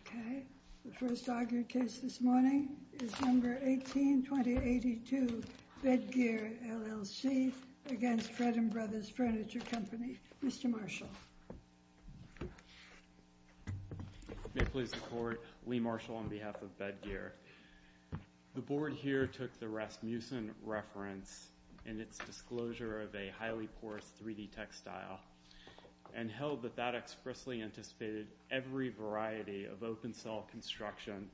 Okay, the first argued case this morning is No. 18-2082, Bedgear, LLC v. Fredman Bros. Furniture Co. Mr. Marshall. May it please the Court, Lee Marshall on behalf of Bedgear. The Board here took the Rasmussen reference in its disclosure of a highly porous 3D textile and held that that expressly anticipated every variety of open-cell construction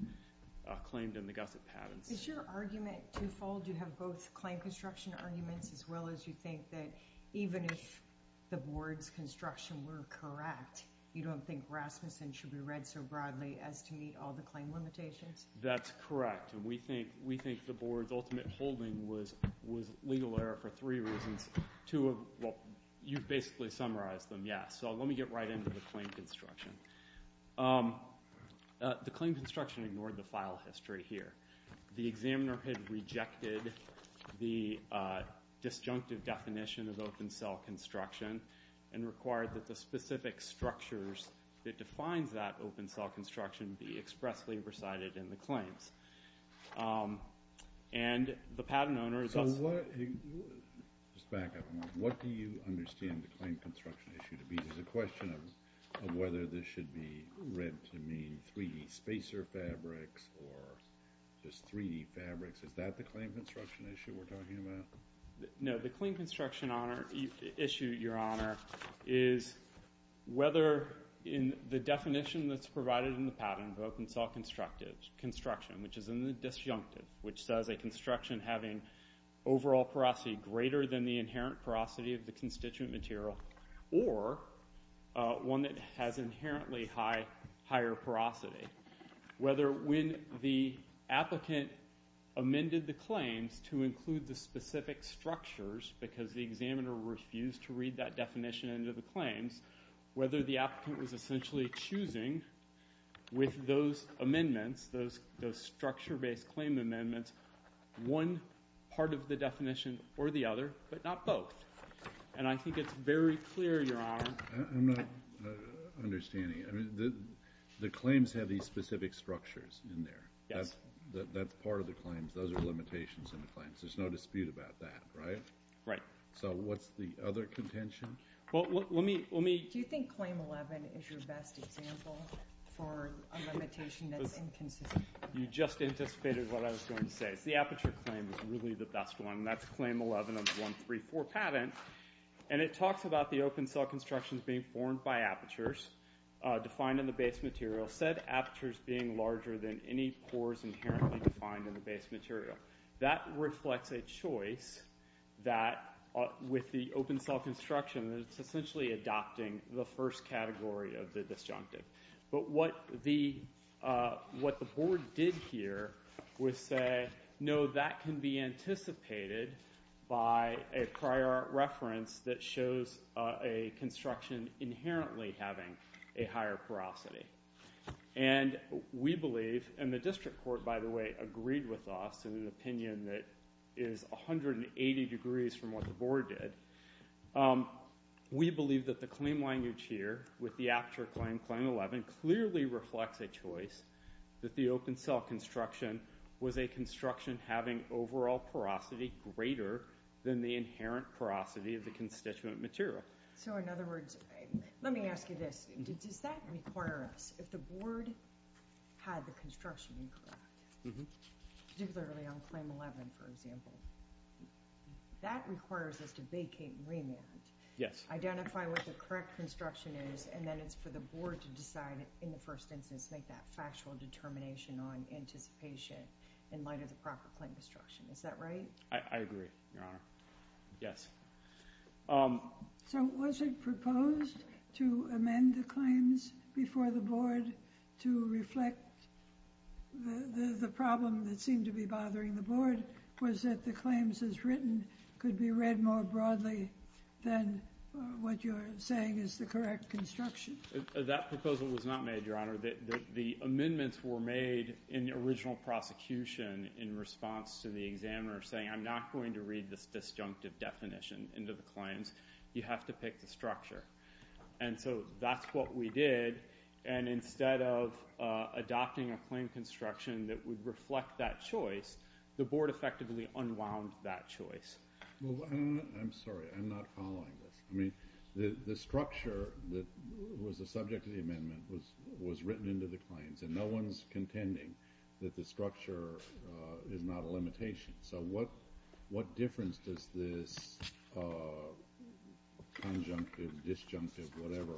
claimed in the gusset patents. Is your argument twofold? You have both claim construction arguments as well as you think that even if the Board's construction were correct, you don't think Rasmussen should be read so broadly as to meet all the claim limitations? That's correct, and we think the Board's ultimate holding was legal error for three reasons. You've basically summarized them, yes. So let me get right into the claim construction. The claim construction ignored the file history here. The examiner had rejected the disjunctive definition of open-cell construction and required that the specific structures that defines that open-cell construction be expressly recited in the claims. And the patent owner is also— So what—just back up a moment. What do you understand the claim construction issue to be? There's a question of whether this should be read to mean 3D spacer fabrics or just 3D fabrics. Is that the claim construction issue we're talking about? No, the claim construction issue, Your Honor, is whether in the definition that's provided in the patent book, open-cell construction, which is in the disjunctive, which says a construction having overall porosity greater than the inherent porosity of the constituent material or one that has inherently higher porosity, whether when the applicant amended the claims to include the specific structures because the examiner refused to read that definition into the claims, whether the applicant was essentially choosing with those amendments, those structure-based claim amendments, one part of the definition or the other, but not both. And I think it's very clear, Your Honor— I'm not understanding. The claims have these specific structures in there. That's part of the claims. Those are limitations in the claims. There's no dispute about that, right? Right. So what's the other contention? Do you think Claim 11 is your best example for a limitation that's inconsistent? You just anticipated what I was going to say. The aperture claim is really the best one, and that's Claim 11 of the 134 patent, and it talks about the open-cell constructions being formed by apertures defined in the base material, said apertures being larger than any pores inherently defined in the base material. That reflects a choice that, with the open-cell construction, it's essentially adopting the first category of the disjunctive. But what the board did here was say, no, that can be anticipated by a prior reference that shows a construction inherently having a higher porosity. And we believe—and the district court, by the way, agreed with us in an opinion that is 180 degrees from what the board did. We believe that the claim language here with the aperture claim, Claim 11, clearly reflects a choice that the open-cell construction was a construction having overall porosity greater than the inherent porosity of the constituent material. So, in other words, let me ask you this. Does that require us, if the board had the construction incorrect, particularly on Claim 11, for example, that requires us to vacate and remand? Yes. Identify what the correct construction is, and then it's for the board to decide, in the first instance, make that factual determination on anticipation in light of the proper claim construction. Is that right? I agree, Your Honor. Yes. So, was it proposed to amend the claims before the board to reflect the problem that seemed to be bothering the board, was that the claims as written could be read more broadly than what you're saying is the correct construction? That proposal was not made, Your Honor. The amendments were made in original prosecution in response to the examiner saying, I'm not going to read this disjunctive definition into the claims. You have to pick the structure. And so that's what we did, and instead of adopting a claim construction that would reflect that choice, the board effectively unwound that choice. I'm sorry. I'm not following this. The structure that was the subject of the amendment was written into the claims, so what difference does this conjunctive, disjunctive, whatever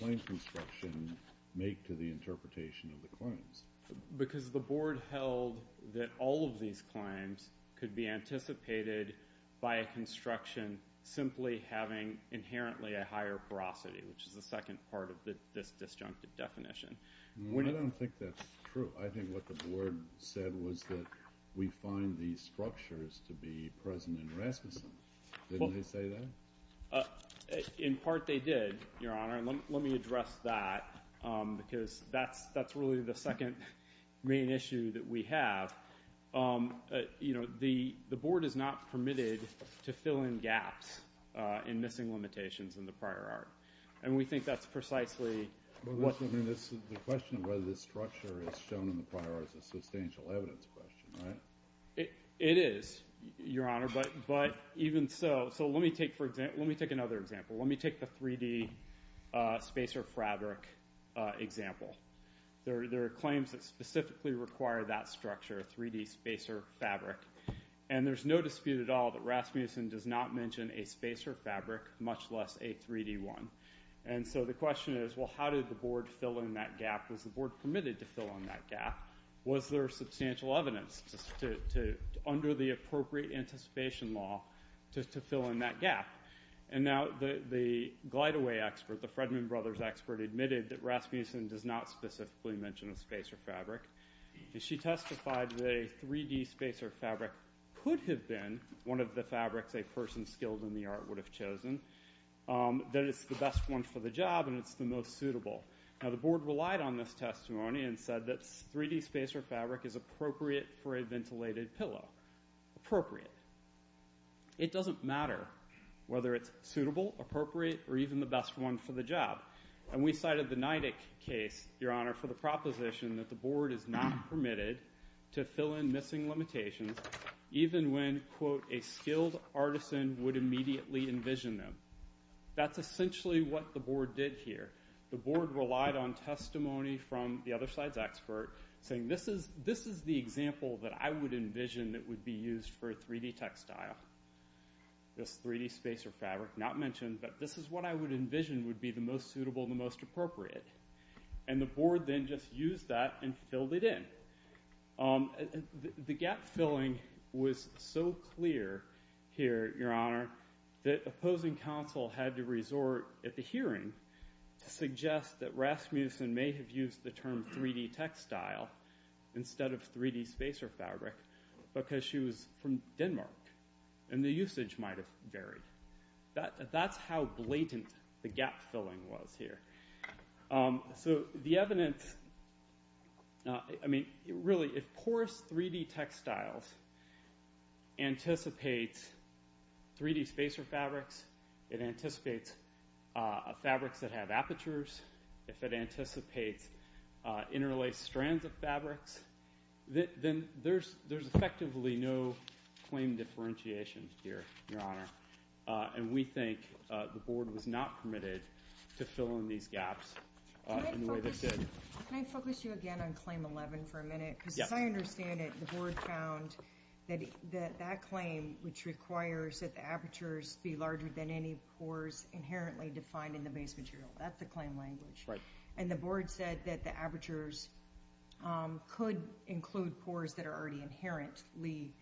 claim construction make to the interpretation of the claims? Because the board held that all of these claims could be anticipated by a construction simply having inherently a higher porosity, which is the second part of this disjunctive definition. I don't think that's true. I think what the board said was that we find these structures to be present in Rasmussen. Didn't they say that? In part, they did, Your Honor, and let me address that because that's really the second main issue that we have. You know, the board is not permitted to fill in gaps in missing limitations in the prior art, and we think that's precisely what the board said. Missing in the prior art is a substantial evidence question, right? It is, Your Honor, but even so, let me take another example. Let me take the 3D spacer fabric example. There are claims that specifically require that structure, 3D spacer fabric, and there's no dispute at all that Rasmussen does not mention a spacer fabric, much less a 3D one. And so the question is, well, how did the board fill in that gap? Was the board permitted to fill in that gap? Was there substantial evidence under the appropriate anticipation law to fill in that gap? And now the GlideAway expert, the Fredman Brothers expert, admitted that Rasmussen does not specifically mention a spacer fabric, and she testified that a 3D spacer fabric could have been one of the fabrics a person skilled in the art would have chosen, that it's the best one for the job and it's the most suitable. Now, the board relied on this testimony and said that 3D spacer fabric is appropriate for a ventilated pillow. Appropriate. It doesn't matter whether it's suitable, appropriate, or even the best one for the job. And we cited the NIDIC case, Your Honor, for the proposition that the board is not permitted to fill in missing limitations even when, quote, a skilled artisan would immediately envision them. That's essentially what the board did here. The board relied on testimony from the other side's expert, saying this is the example that I would envision that would be used for a 3D textile, this 3D spacer fabric not mentioned, but this is what I would envision would be the most suitable and the most appropriate. And the board then just used that and filled it in. The gap filling was so clear here, Your Honor, that opposing counsel had to resort at the hearing to suggest that Rasmussen may have used the term 3D textile instead of 3D spacer fabric because she was from Denmark and the usage might have varied. That's how blatant the gap filling was here. So the evidence, I mean, really, if porous 3D textiles anticipates 3D spacer fabrics, it anticipates fabrics that have apertures, if it anticipates interlaced strands of fabrics, then there's effectively no claim differentiation here, Your Honor. And we think the board was not permitted to fill in these gaps in the way they did. Can I focus you again on Claim 11 for a minute? Because as I understand it, the board found that that claim, which requires that the apertures be larger than any pores inherently defined in the base material, that's the claim language. And the board said that the apertures could include pores that are already inherently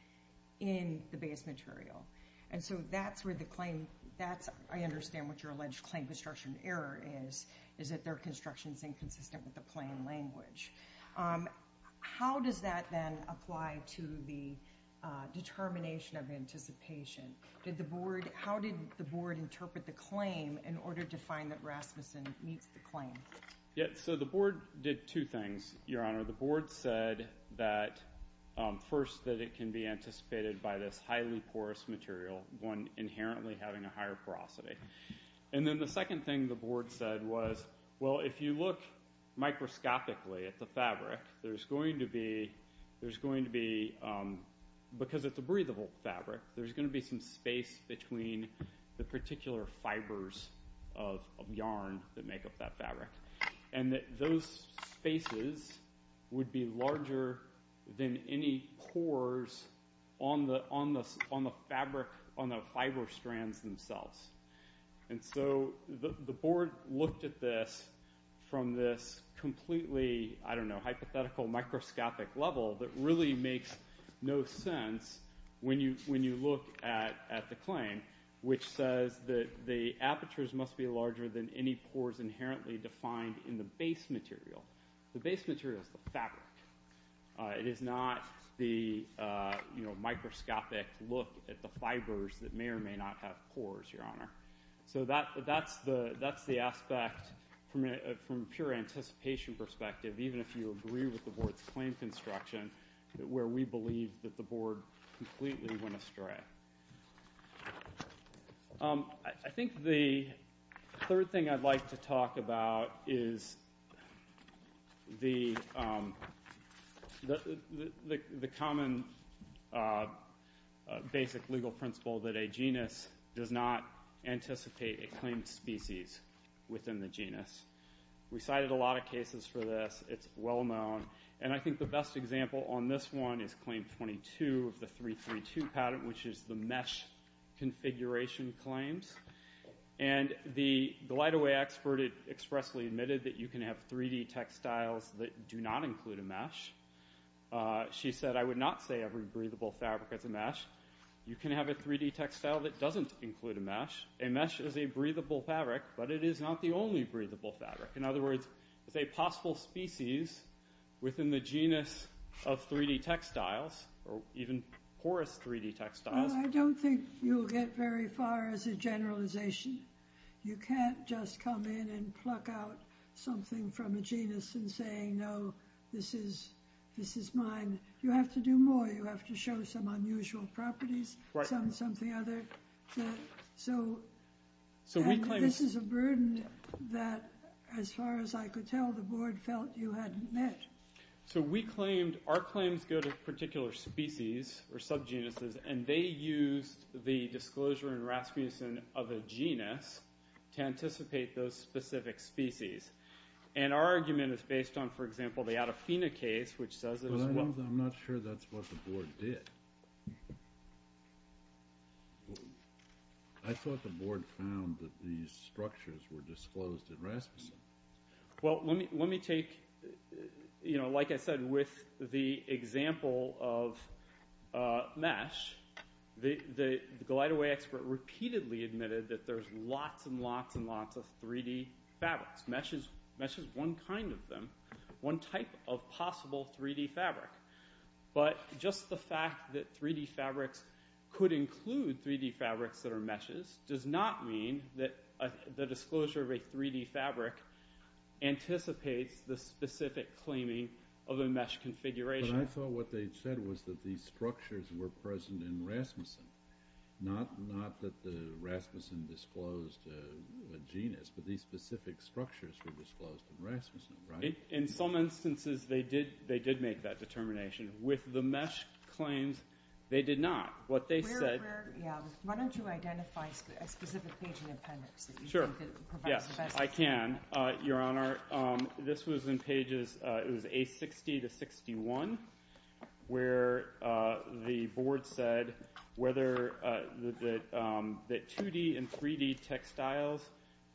in the base material. And so that's where the claim, that's, I understand what your alleged claim construction error is, is that their construction is inconsistent with the claim language. How does that then apply to the determination of anticipation? How did the board interpret the claim in order to find that Rasmussen meets the claim? So the board did two things, Your Honor. The board said that, first, that it can be anticipated by this highly porous material, one inherently having a higher porosity. And then the second thing the board said was, well, if you look microscopically at the fabric, there's going to be, because it's a breathable fabric, there's going to be some space between the particular fibers of yarn that make up that fabric. And that those spaces would be larger than any pores on the fabric, on the fiber strands themselves. And so the board looked at this from this completely, I don't know, hypothetical microscopic level that really makes no sense when you look at the claim, which says that the apertures must be larger than any pores inherently defined in the base material. The base material is the fabric. It is not the microscopic look at the fibers that may or may not have pores, Your Honor. So that's the aspect from a pure anticipation perspective, even if you agree with the board's claim construction, where we believe that the board completely went astray. I think the third thing I'd like to talk about is the common basic legal principle that a genus does not anticipate a claimed species within the genus. We cited a lot of cases for this. It's well known. And I think the best example on this one is claim 22 of the 332 patent, which is the mesh configuration claims. And the light-away expert expressly admitted that you can have 3D textiles that do not include a mesh. She said, I would not say every breathable fabric has a mesh. You can have a 3D textile that doesn't include a mesh. A mesh is a breathable fabric, but it is not the only breathable fabric. In other words, it's a possible species within the genus of 3D textiles or even porous 3D textiles. I don't think you'll get very far as a generalization. You can't just come in and pluck out something from a genus and say, no, this is mine. You have to do more. You have to show some unusual properties. So this is a burden that, as far as I could tell, the board felt you hadn't met. So we claimed our claims go to particular species or subgenuses, and they used the disclosure in Rasmussen of a genus to anticipate those specific species. And our argument is based on, for example, the Adafina case, which says as well. As long as I'm not sure that's what the board did, I thought the board found that these structures were disclosed in Rasmussen. Well, let me take, like I said, with the example of mesh, the GlideAway expert repeatedly admitted that there's lots and lots and lots of 3D fabrics. Mesh is one kind of them, one type of possible 3D fabric. But just the fact that 3D fabrics could include 3D fabrics that are meshes does not mean that the disclosure of a 3D fabric anticipates the specific claiming of a mesh configuration. But I thought what they said was that these structures were present in Rasmussen, not that the Rasmussen disclosed a genus, but these specific structures were disclosed in Rasmussen, right? In some instances, they did make that determination. With the mesh claims, they did not. What they said- Why don't you identify a specific page in your appendix that you think provides the best- Sure, yes, I can, Your Honor. This was in pages, it was A60 to 61, where the board said that 2D and 3D textiles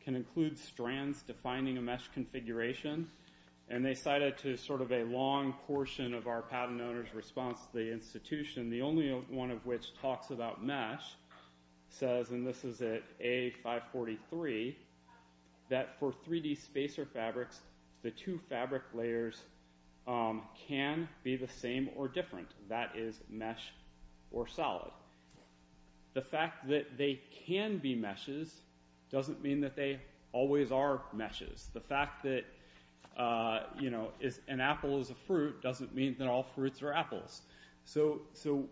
can include strands defining a mesh configuration. And they cited to sort of a long portion of our patent owner's response to the institution, the only one of which talks about mesh, says, and this is at A543, that for 3D spacer fabrics, the two fabric layers can be the same or different. That is mesh or solid. The fact that they can be meshes doesn't mean that they always are meshes. The fact that an apple is a fruit doesn't mean that all fruits are apples. So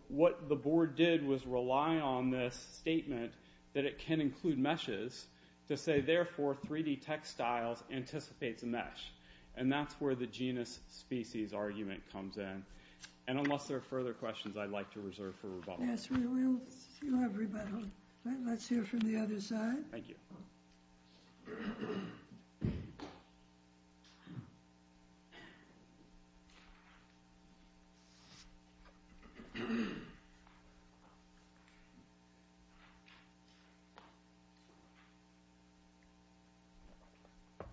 what the board did was rely on this statement that it can include meshes to say, therefore, 3D textiles anticipates a mesh. And that's where the genus-species argument comes in. And unless there are further questions, I'd like to reserve for rebuttal. Yes, we will. Let's hear from the other side. Thank you.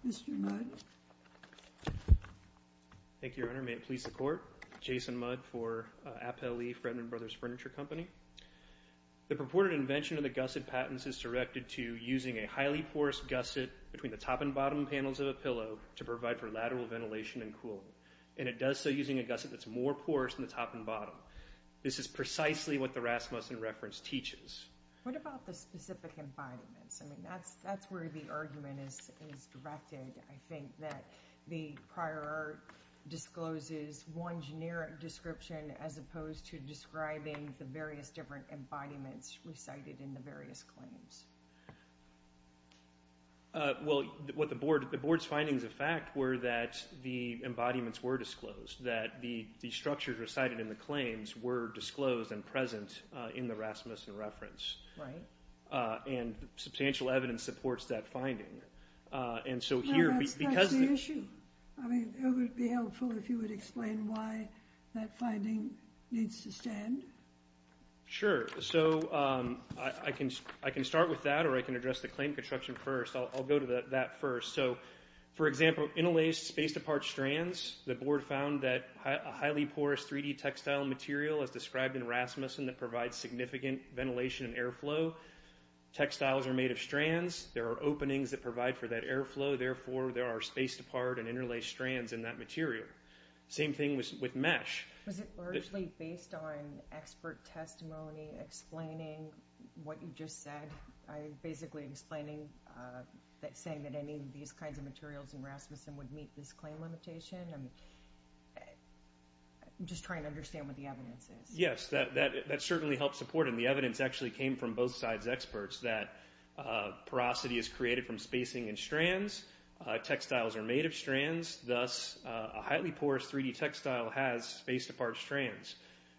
Mr. Mudd. Thank you, Your Honor. May it please the Court. Jason Mudd for Appellee Fredman Brothers Furniture Company. The purported invention of the gusset patents is directed to using a highly porous gusset between the top and bottom panels of a pillow to provide for lateral ventilation and cooling. And it does so using a gusset that's more porous in the top and bottom. This is precisely what the Rasmussen reference teaches. What about the specific embodiments? I mean, that's where the argument is directed, I think, that the prior art discloses one generic description as opposed to describing the various different embodiments recited in the various claims. Well, the Board's findings of fact were that the embodiments were disclosed, that the structures recited in the claims were disclosed and present in the Rasmussen reference. Right. And substantial evidence supports that finding. No, that's not the issue. I mean, it would be helpful if you would explain why that finding needs to stand. Sure. So I can start with that or I can address the claim construction first. I'll go to that first. So, for example, interlaced space-to-part strands, the Board found that a highly porous 3D textile material as described in Rasmussen that provides significant ventilation and airflow. Textiles are made of strands. There are openings that provide for that airflow. Therefore, there are space-to-part and interlaced strands in that material. Same thing with mesh. Was it largely based on expert testimony explaining what you just said? Basically explaining that saying that any of these kinds of materials in Rasmussen would meet this claim limitation? I'm just trying to understand what the evidence is. Yes, that certainly helps support it. And the evidence actually came from both sides' experts that porosity is created from spacing and strands. Textiles are made of strands. Thus, a highly porous 3D textile has space-to-part strands.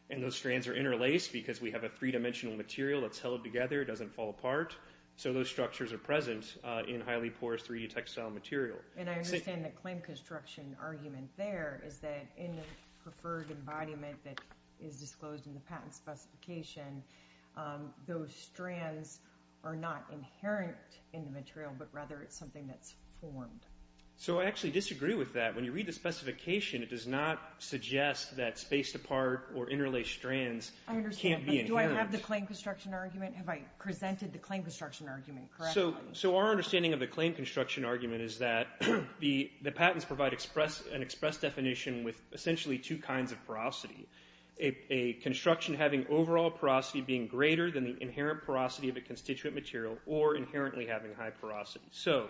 And those strands are interlaced because we have a three-dimensional material that's held together. It doesn't fall apart. So those structures are present in highly porous 3D textile material. And I understand the claim construction argument there is that in the preferred embodiment that is disclosed in the patent specification, those strands are not inherent in the material, but rather it's something that's formed. So I actually disagree with that. When you read the specification, it does not suggest that space-to-part or interlaced strands can't be inherent. Do I have the claim construction argument? Have I presented the claim construction argument correctly? So our understanding of the claim construction argument is that the patents provide an express definition with essentially two kinds of porosity, a construction having overall porosity being greater than the inherent porosity of a constituent material or inherently having high porosity. So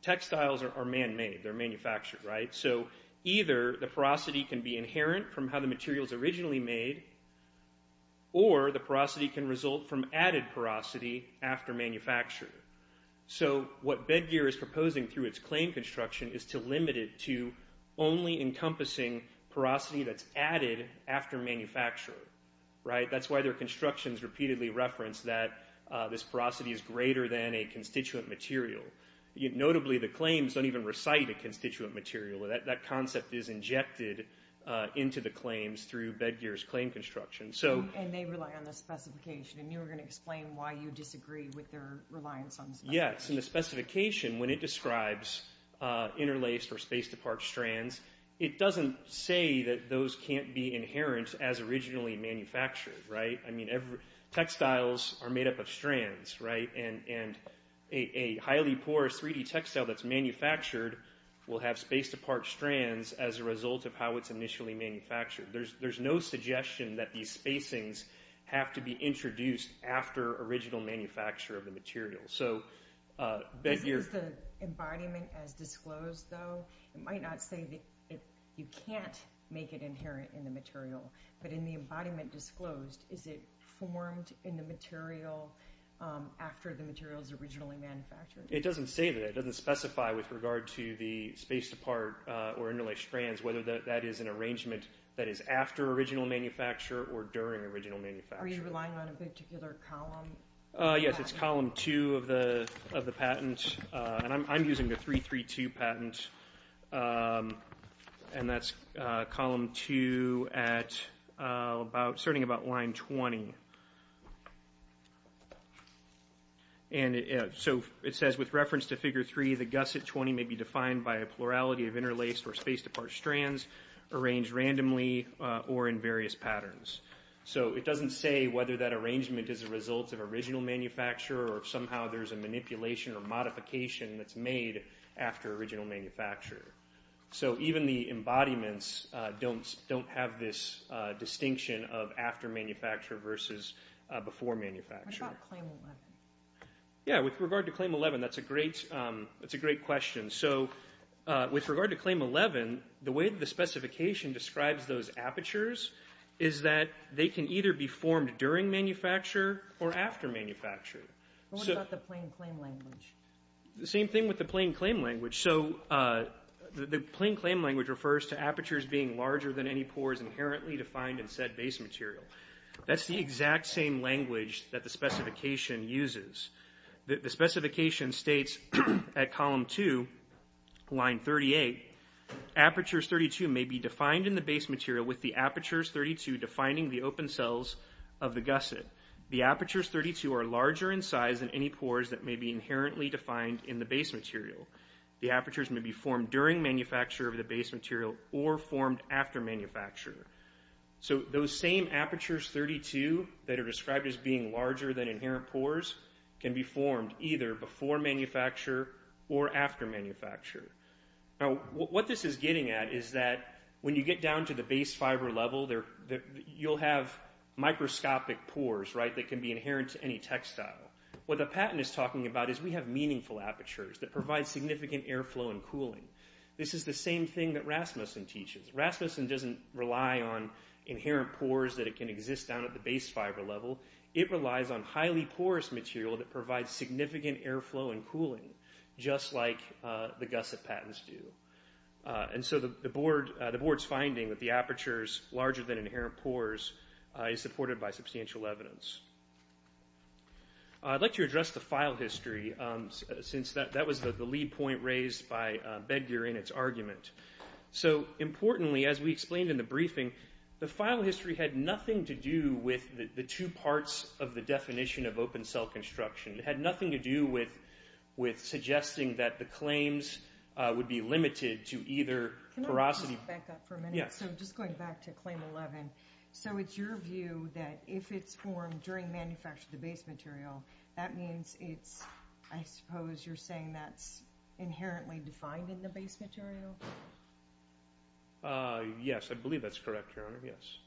textiles are man-made. They're manufactured, right? So either the porosity can be inherent from how the material is originally made, or the porosity can result from added porosity after manufacture. So what Bedgear is proposing through its claim construction is to limit it to only encompassing porosity that's added after manufacture, right? That's why their constructions repeatedly reference that this porosity is greater than a constituent material. Notably, the claims don't even recite a constituent material. That concept is injected into the claims through Bedgear's claim construction. And they rely on the specification, and you were going to explain why you disagree with their reliance on the specification. Yes, and the specification, when it describes interlaced or space-to-part strands, it doesn't say that those can't be inherent as originally manufactured, right? I mean, textiles are made up of strands, right? And a highly porous 3D textile that's manufactured will have space-to-part strands as a result of how it's initially manufactured. There's no suggestion that these spacings have to be introduced after original manufacture of the material. Is the embodiment as disclosed, though? It might not say that you can't make it inherent in the material. But in the embodiment disclosed, is it formed in the material after the material is originally manufactured? It doesn't say that. It doesn't specify with regard to the space-to-part or interlaced strands whether that is an arrangement that is after original manufacture or during original manufacture. Are you relying on a particular column? Yes, it's column two of the patent. And I'm using the 332 patent, and that's column two at about starting about line 20. And so it says, with reference to figure three, the gusset 20 may be defined by a plurality of interlaced or space-to-part strands arranged randomly or in various patterns. So it doesn't say whether that arrangement is a result of original manufacture or if somehow there's a manipulation or modification that's made after original manufacture. So even the embodiments don't have this distinction of after manufacture versus before manufacture. What about claim 11? Yeah, with regard to claim 11, that's a great question. So with regard to claim 11, the way that the specification describes those apertures is that they can either be formed during manufacture or after manufacture. What about the plain claim language? The same thing with the plain claim language. So the plain claim language refers to apertures being larger than any pores inherently defined in said base material. That's the exact same language that the specification uses. The specification states at column two, line 38, apertures 32 may be defined in the base material with the apertures 32 defining the open cells of the gusset. The apertures 32 are larger in size than any pores that may be inherently defined in the base material. The apertures may be formed during manufacture of the base material or formed after manufacture. So those same apertures 32 that are described as being larger than inherent pores can be formed either before manufacture or after manufacture. Now what this is getting at is that when you get down to the base fiber level, you'll have microscopic pores, right, that can be inherent to any textile. What the patent is talking about is we have meaningful apertures that provide significant airflow and cooling. This is the same thing that Rasmussen teaches. Rasmussen doesn't rely on inherent pores that can exist down at the base fiber level. It relies on highly porous material that provides significant airflow and cooling just like the gusset patents do. And so the board's finding that the apertures larger than inherent pores is supported by substantial evidence. I'd like to address the file history since that was the lead point raised by Bedgear in its argument. So importantly, as we explained in the briefing, the file history had nothing to do with the two parts of the definition of open-cell construction. It had nothing to do with suggesting that the claims would be limited to either porosity... Can I back up for a minute? Yes. So just going back to claim 11. So it's your view that if it's formed during manufacture of the base material, that means it's... Yes. I believe that's correct, Your Honor. Yes.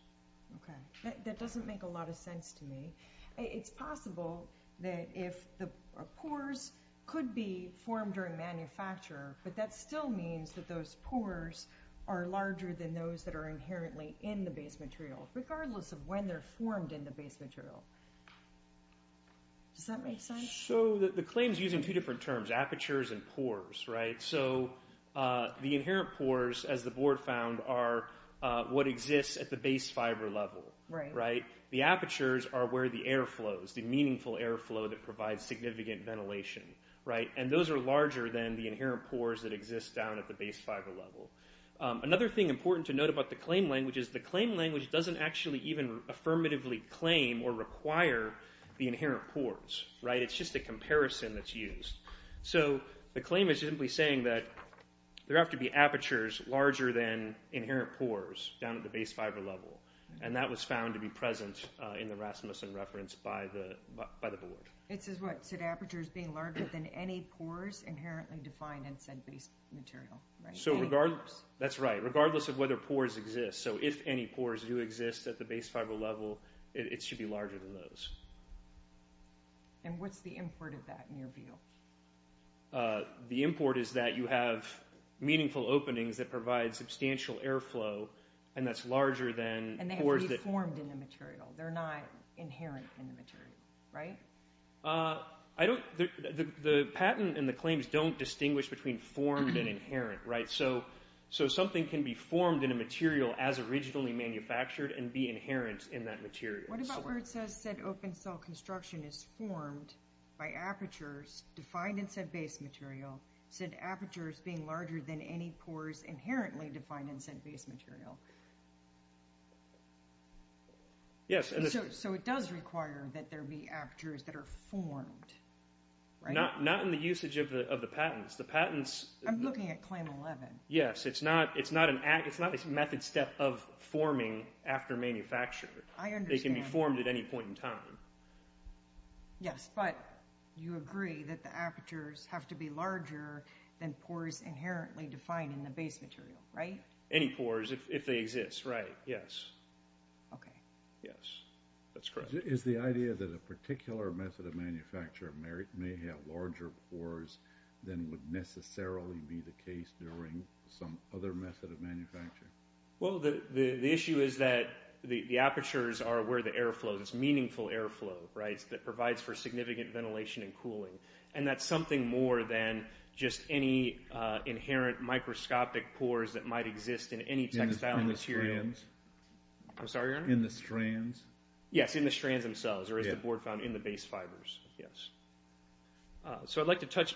Okay. That doesn't make a lot of sense to me. It's possible that if the pores could be formed during manufacture, but that still means that those pores are larger than those that are inherently in the base material, regardless of when they're formed in the base material. Does that make sense? So the claim's using two different terms, apertures and pores, right? So the inherent pores, as the Board found, are what exists at the base fiber level, right? The apertures are where the air flows, the meaningful air flow that provides significant ventilation, right? And those are larger than the inherent pores that exist down at the base fiber level. Another thing important to note about the claim language is the claim language doesn't actually even affirmatively claim or require the inherent pores, right? It's just a comparison that's used. So the claim is simply saying that there have to be apertures larger than inherent pores down at the base fiber level, and that was found to be present in the Rasmussen reference by the Board. It says what? It said apertures being larger than any pores inherently defined in said base material, right? So regardless... That's right. Regardless of whether pores exist. So if any pores do exist at the base fiber level, it should be larger than those. And what's the import of that in your view? The import is that you have meaningful openings that provide substantial air flow, and that's larger than... And they have to be formed in the material. They're not inherent in the material, right? I don't... The patent and the claims don't distinguish between formed and inherent, right? So something can be formed in a material as originally manufactured and be inherent in that material. What about where it says said open cell construction is formed by apertures defined in said base material, said apertures being larger than any pores inherently defined in said base material? Yes. So it does require that there be apertures that are formed, right? Not in the usage of the patents. The patents... I'm looking at Claim 11. Yes. It's not a method step of forming after manufacture. I understand. They can be formed at any point in time. Yes, but you agree that the apertures have to be larger than pores inherently defined in the base material, right? Any pores, if they exist, right. Yes. Okay. Yes. That's correct. Is the idea that a particular method of manufacture may have larger pores than would necessarily be the case during some other method of manufacture? Well, the issue is that the apertures are where the air flows. It's meaningful air flow, right, that provides for significant ventilation and cooling. And that's something more than just any inherent microscopic pores that might exist in any textile material. In the strands. I'm sorry, Your Honor? In the strands. Yes, in the strands themselves, or as the board found, in the base fibers. Yes. So I'd like to touch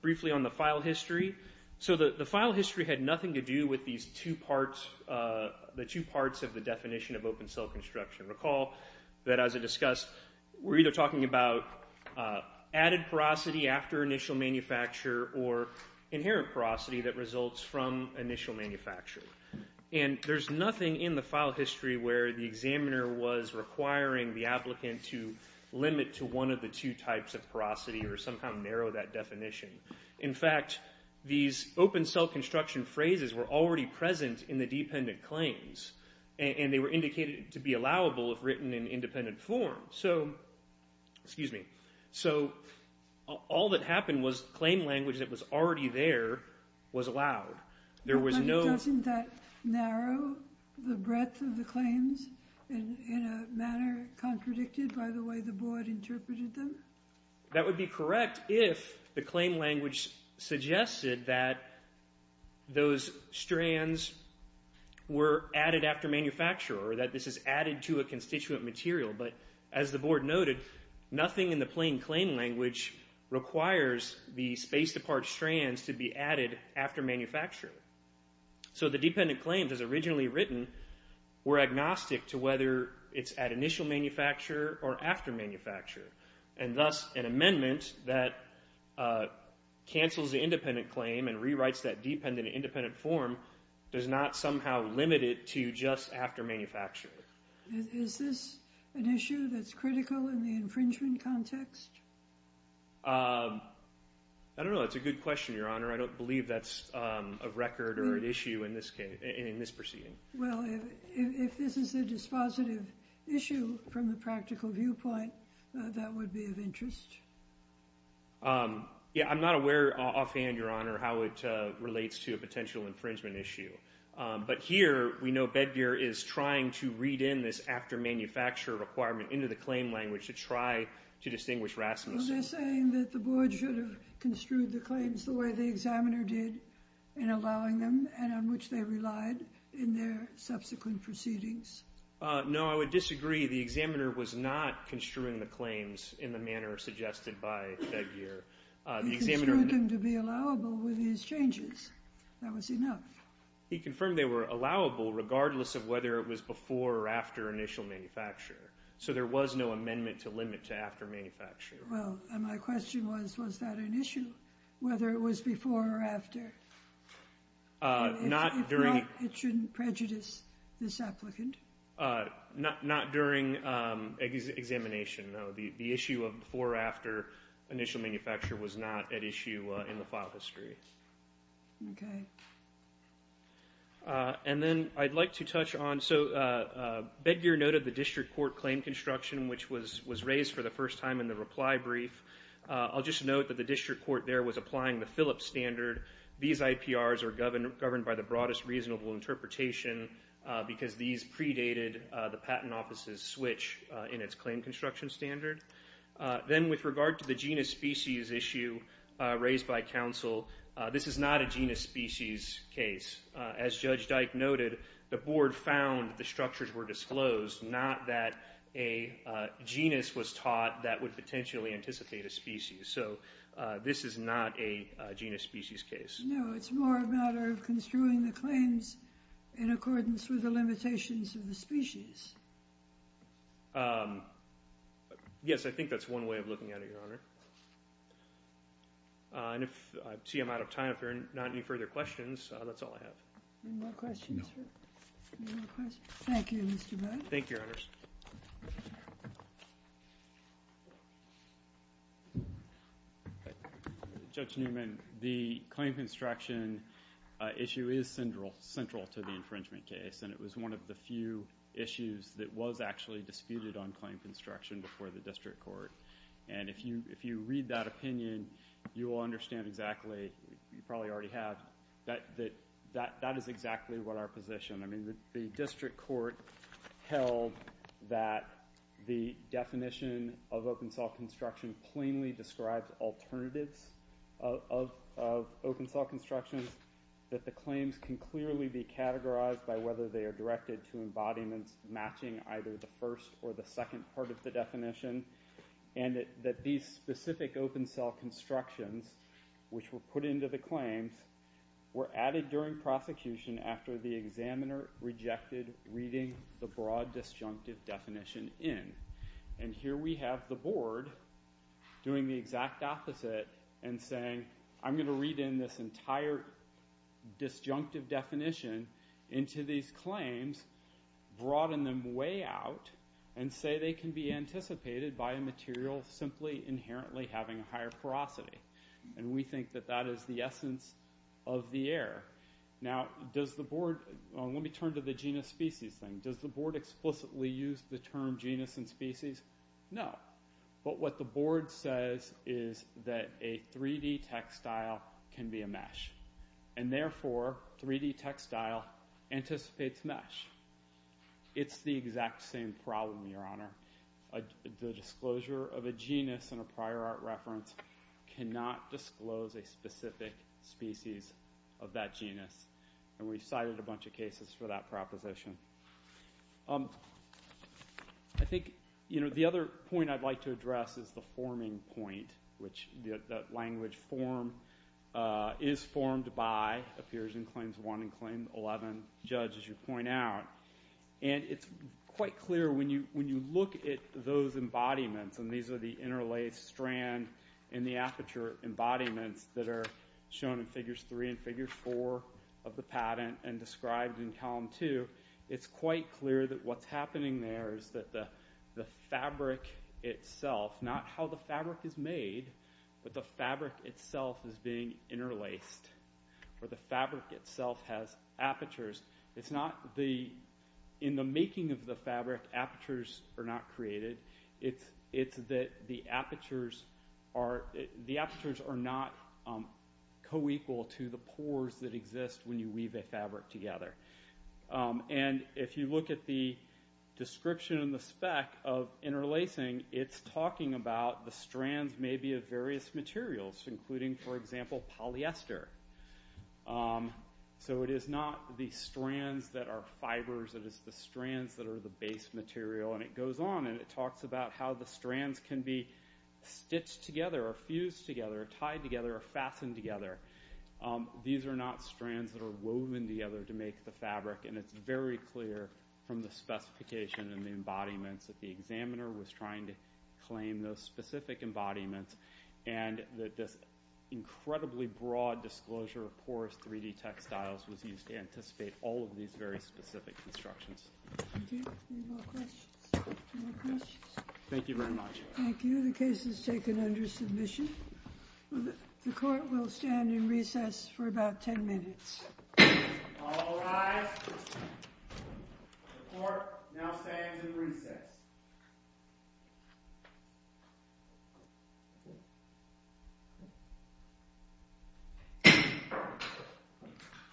briefly on the file history. So the file history had nothing to do with these two parts of the definition of open-cell construction. Recall that, as I discussed, we're either talking about added porosity after initial manufacture or inherent porosity that results from initial manufacture. And there's nothing in the file history where the examiner was requiring the applicant to limit to one of the two types of porosity or somehow narrow that definition. In fact, these open-cell construction phrases were already present in the dependent claims. And they were indicated to be allowable if written in independent form. So all that happened was claim language that was already there was allowed. But doesn't that narrow the breadth of the claims in a manner contradicted by the way the board interpreted them? That would be correct if the claim language suggested that those strands were added after manufacture or that this is added to a constituent material. But as the board noted, nothing in the plain claim language requires the spaced-apart strands to be added after manufacture. So the dependent claims, as originally written, were agnostic to whether it's at initial manufacture or after manufacture. And thus, an amendment that cancels the independent claim and rewrites that dependent in independent form does not somehow limit it to just after manufacture. Is this an issue that's critical in the infringement context? I don't know. That's a good question, Your Honor. I don't believe that's a record or an issue in this proceeding. Well, if this is a dispositive issue from the practical viewpoint, that would be of interest. Yeah, I'm not aware offhand, Your Honor, how it relates to a potential infringement issue. But here we know Bedgear is trying to read in this after manufacture requirement into the claim language to try to distinguish Rasmussen. So they're saying that the board should have construed the claims the way the examiner did in allowing them and on which they relied in their subsequent proceedings? No, I would disagree. The examiner was not construing the claims in the manner suggested by Bedgear. He construed them to be allowable with these changes. That was enough. He confirmed they were allowable regardless of whether it was before or after initial manufacture. So there was no amendment to limit to after manufacture. Well, my question was, was that an issue, whether it was before or after? If not, it shouldn't prejudice this applicant. Not during examination, no. The issue of before or after initial manufacture was not at issue in the file history. Okay. And then I'd like to touch on, so Bedgear noted the district court claim construction, which was raised for the first time in the reply brief. I'll just note that the district court there was applying the Phillips standard. These IPRs are governed by the broadest reasonable interpretation because these predated the patent office's switch in its claim construction standard. Then with regard to the genus species issue raised by counsel, this is not a genus species case. As Judge Dyke noted, the board found the structures were disclosed, not that a genus was taught that would potentially anticipate a species. So this is not a genus species case. No, it's more a matter of construing the claims in accordance with the limitations of the species. Yes, I think that's one way of looking at it, Your Honor. I see I'm out of time. If there are not any further questions, that's all I have. Any more questions? No. Any more questions? Thank you, Mr. Budge. Thank you, Your Honors. Judge Newman, the claim construction issue is central to the infringement case, and it was one of the few issues that was actually disputed on claim construction before the district court. If you read that opinion, you will understand exactly. You probably already have. That is exactly what our position. The district court held that the definition of open-saw construction plainly describes alternatives of open-saw construction, that the claims can clearly be categorized by whether they are directed to embodiments matching either the first or the second part of the definition, and that these specific open-saw constructions, which were put into the claims, were added during prosecution after the examiner rejected reading the broad disjunctive definition in. And here we have the board doing the exact opposite and saying, I'm going to read in this entire disjunctive definition into these claims, broaden them way out, and say they can be anticipated by a material simply inherently having a higher porosity. And we think that that is the essence of the error. Now, does the board – let me turn to the genus-species thing. Does the board explicitly use the term genus and species? No. But what the board says is that a 3D textile can be a mesh, and therefore, 3D textile anticipates mesh. It's the exact same problem, Your Honor. The disclosure of a genus in a prior art reference cannot disclose a specific species of that genus. And we cited a bunch of cases for that proposition. I think, you know, the other point I'd like to address is the forming point, which the language form is formed by appears in Claims 1 and Claim 11, Judge, as you point out. And it's quite clear when you look at those embodiments, and these are the interlaced strand and the aperture embodiments that are shown in Figures 3 and Figure 4, of the patent and described in Column 2, it's quite clear that what's happening there is that the fabric itself – not how the fabric is made, but the fabric itself is being interlaced, or the fabric itself has apertures. It's not the – in the making of the fabric, apertures are not created. It's that the apertures are not co-equal to the pores that exist when you weave a fabric together. And if you look at the description in the spec of interlacing, it's talking about the strands maybe of various materials, including, for example, polyester. So it is not the strands that are fibers. It is the strands that are the base material. And it goes on, and it talks about how the strands can be stitched together or fused together or tied together or fastened together. These are not strands that are woven together to make the fabric, and it's very clear from the specification and the embodiments that the examiner was trying to claim those specific embodiments and that this incredibly broad disclosure of porous 3D textiles was used to anticipate all of these very specific constructions. Any more questions? Any more questions? Thank you very much. Thank you. The case is taken under submission. The court will stand in recess for about 10 minutes. All rise. The court now stands in recess.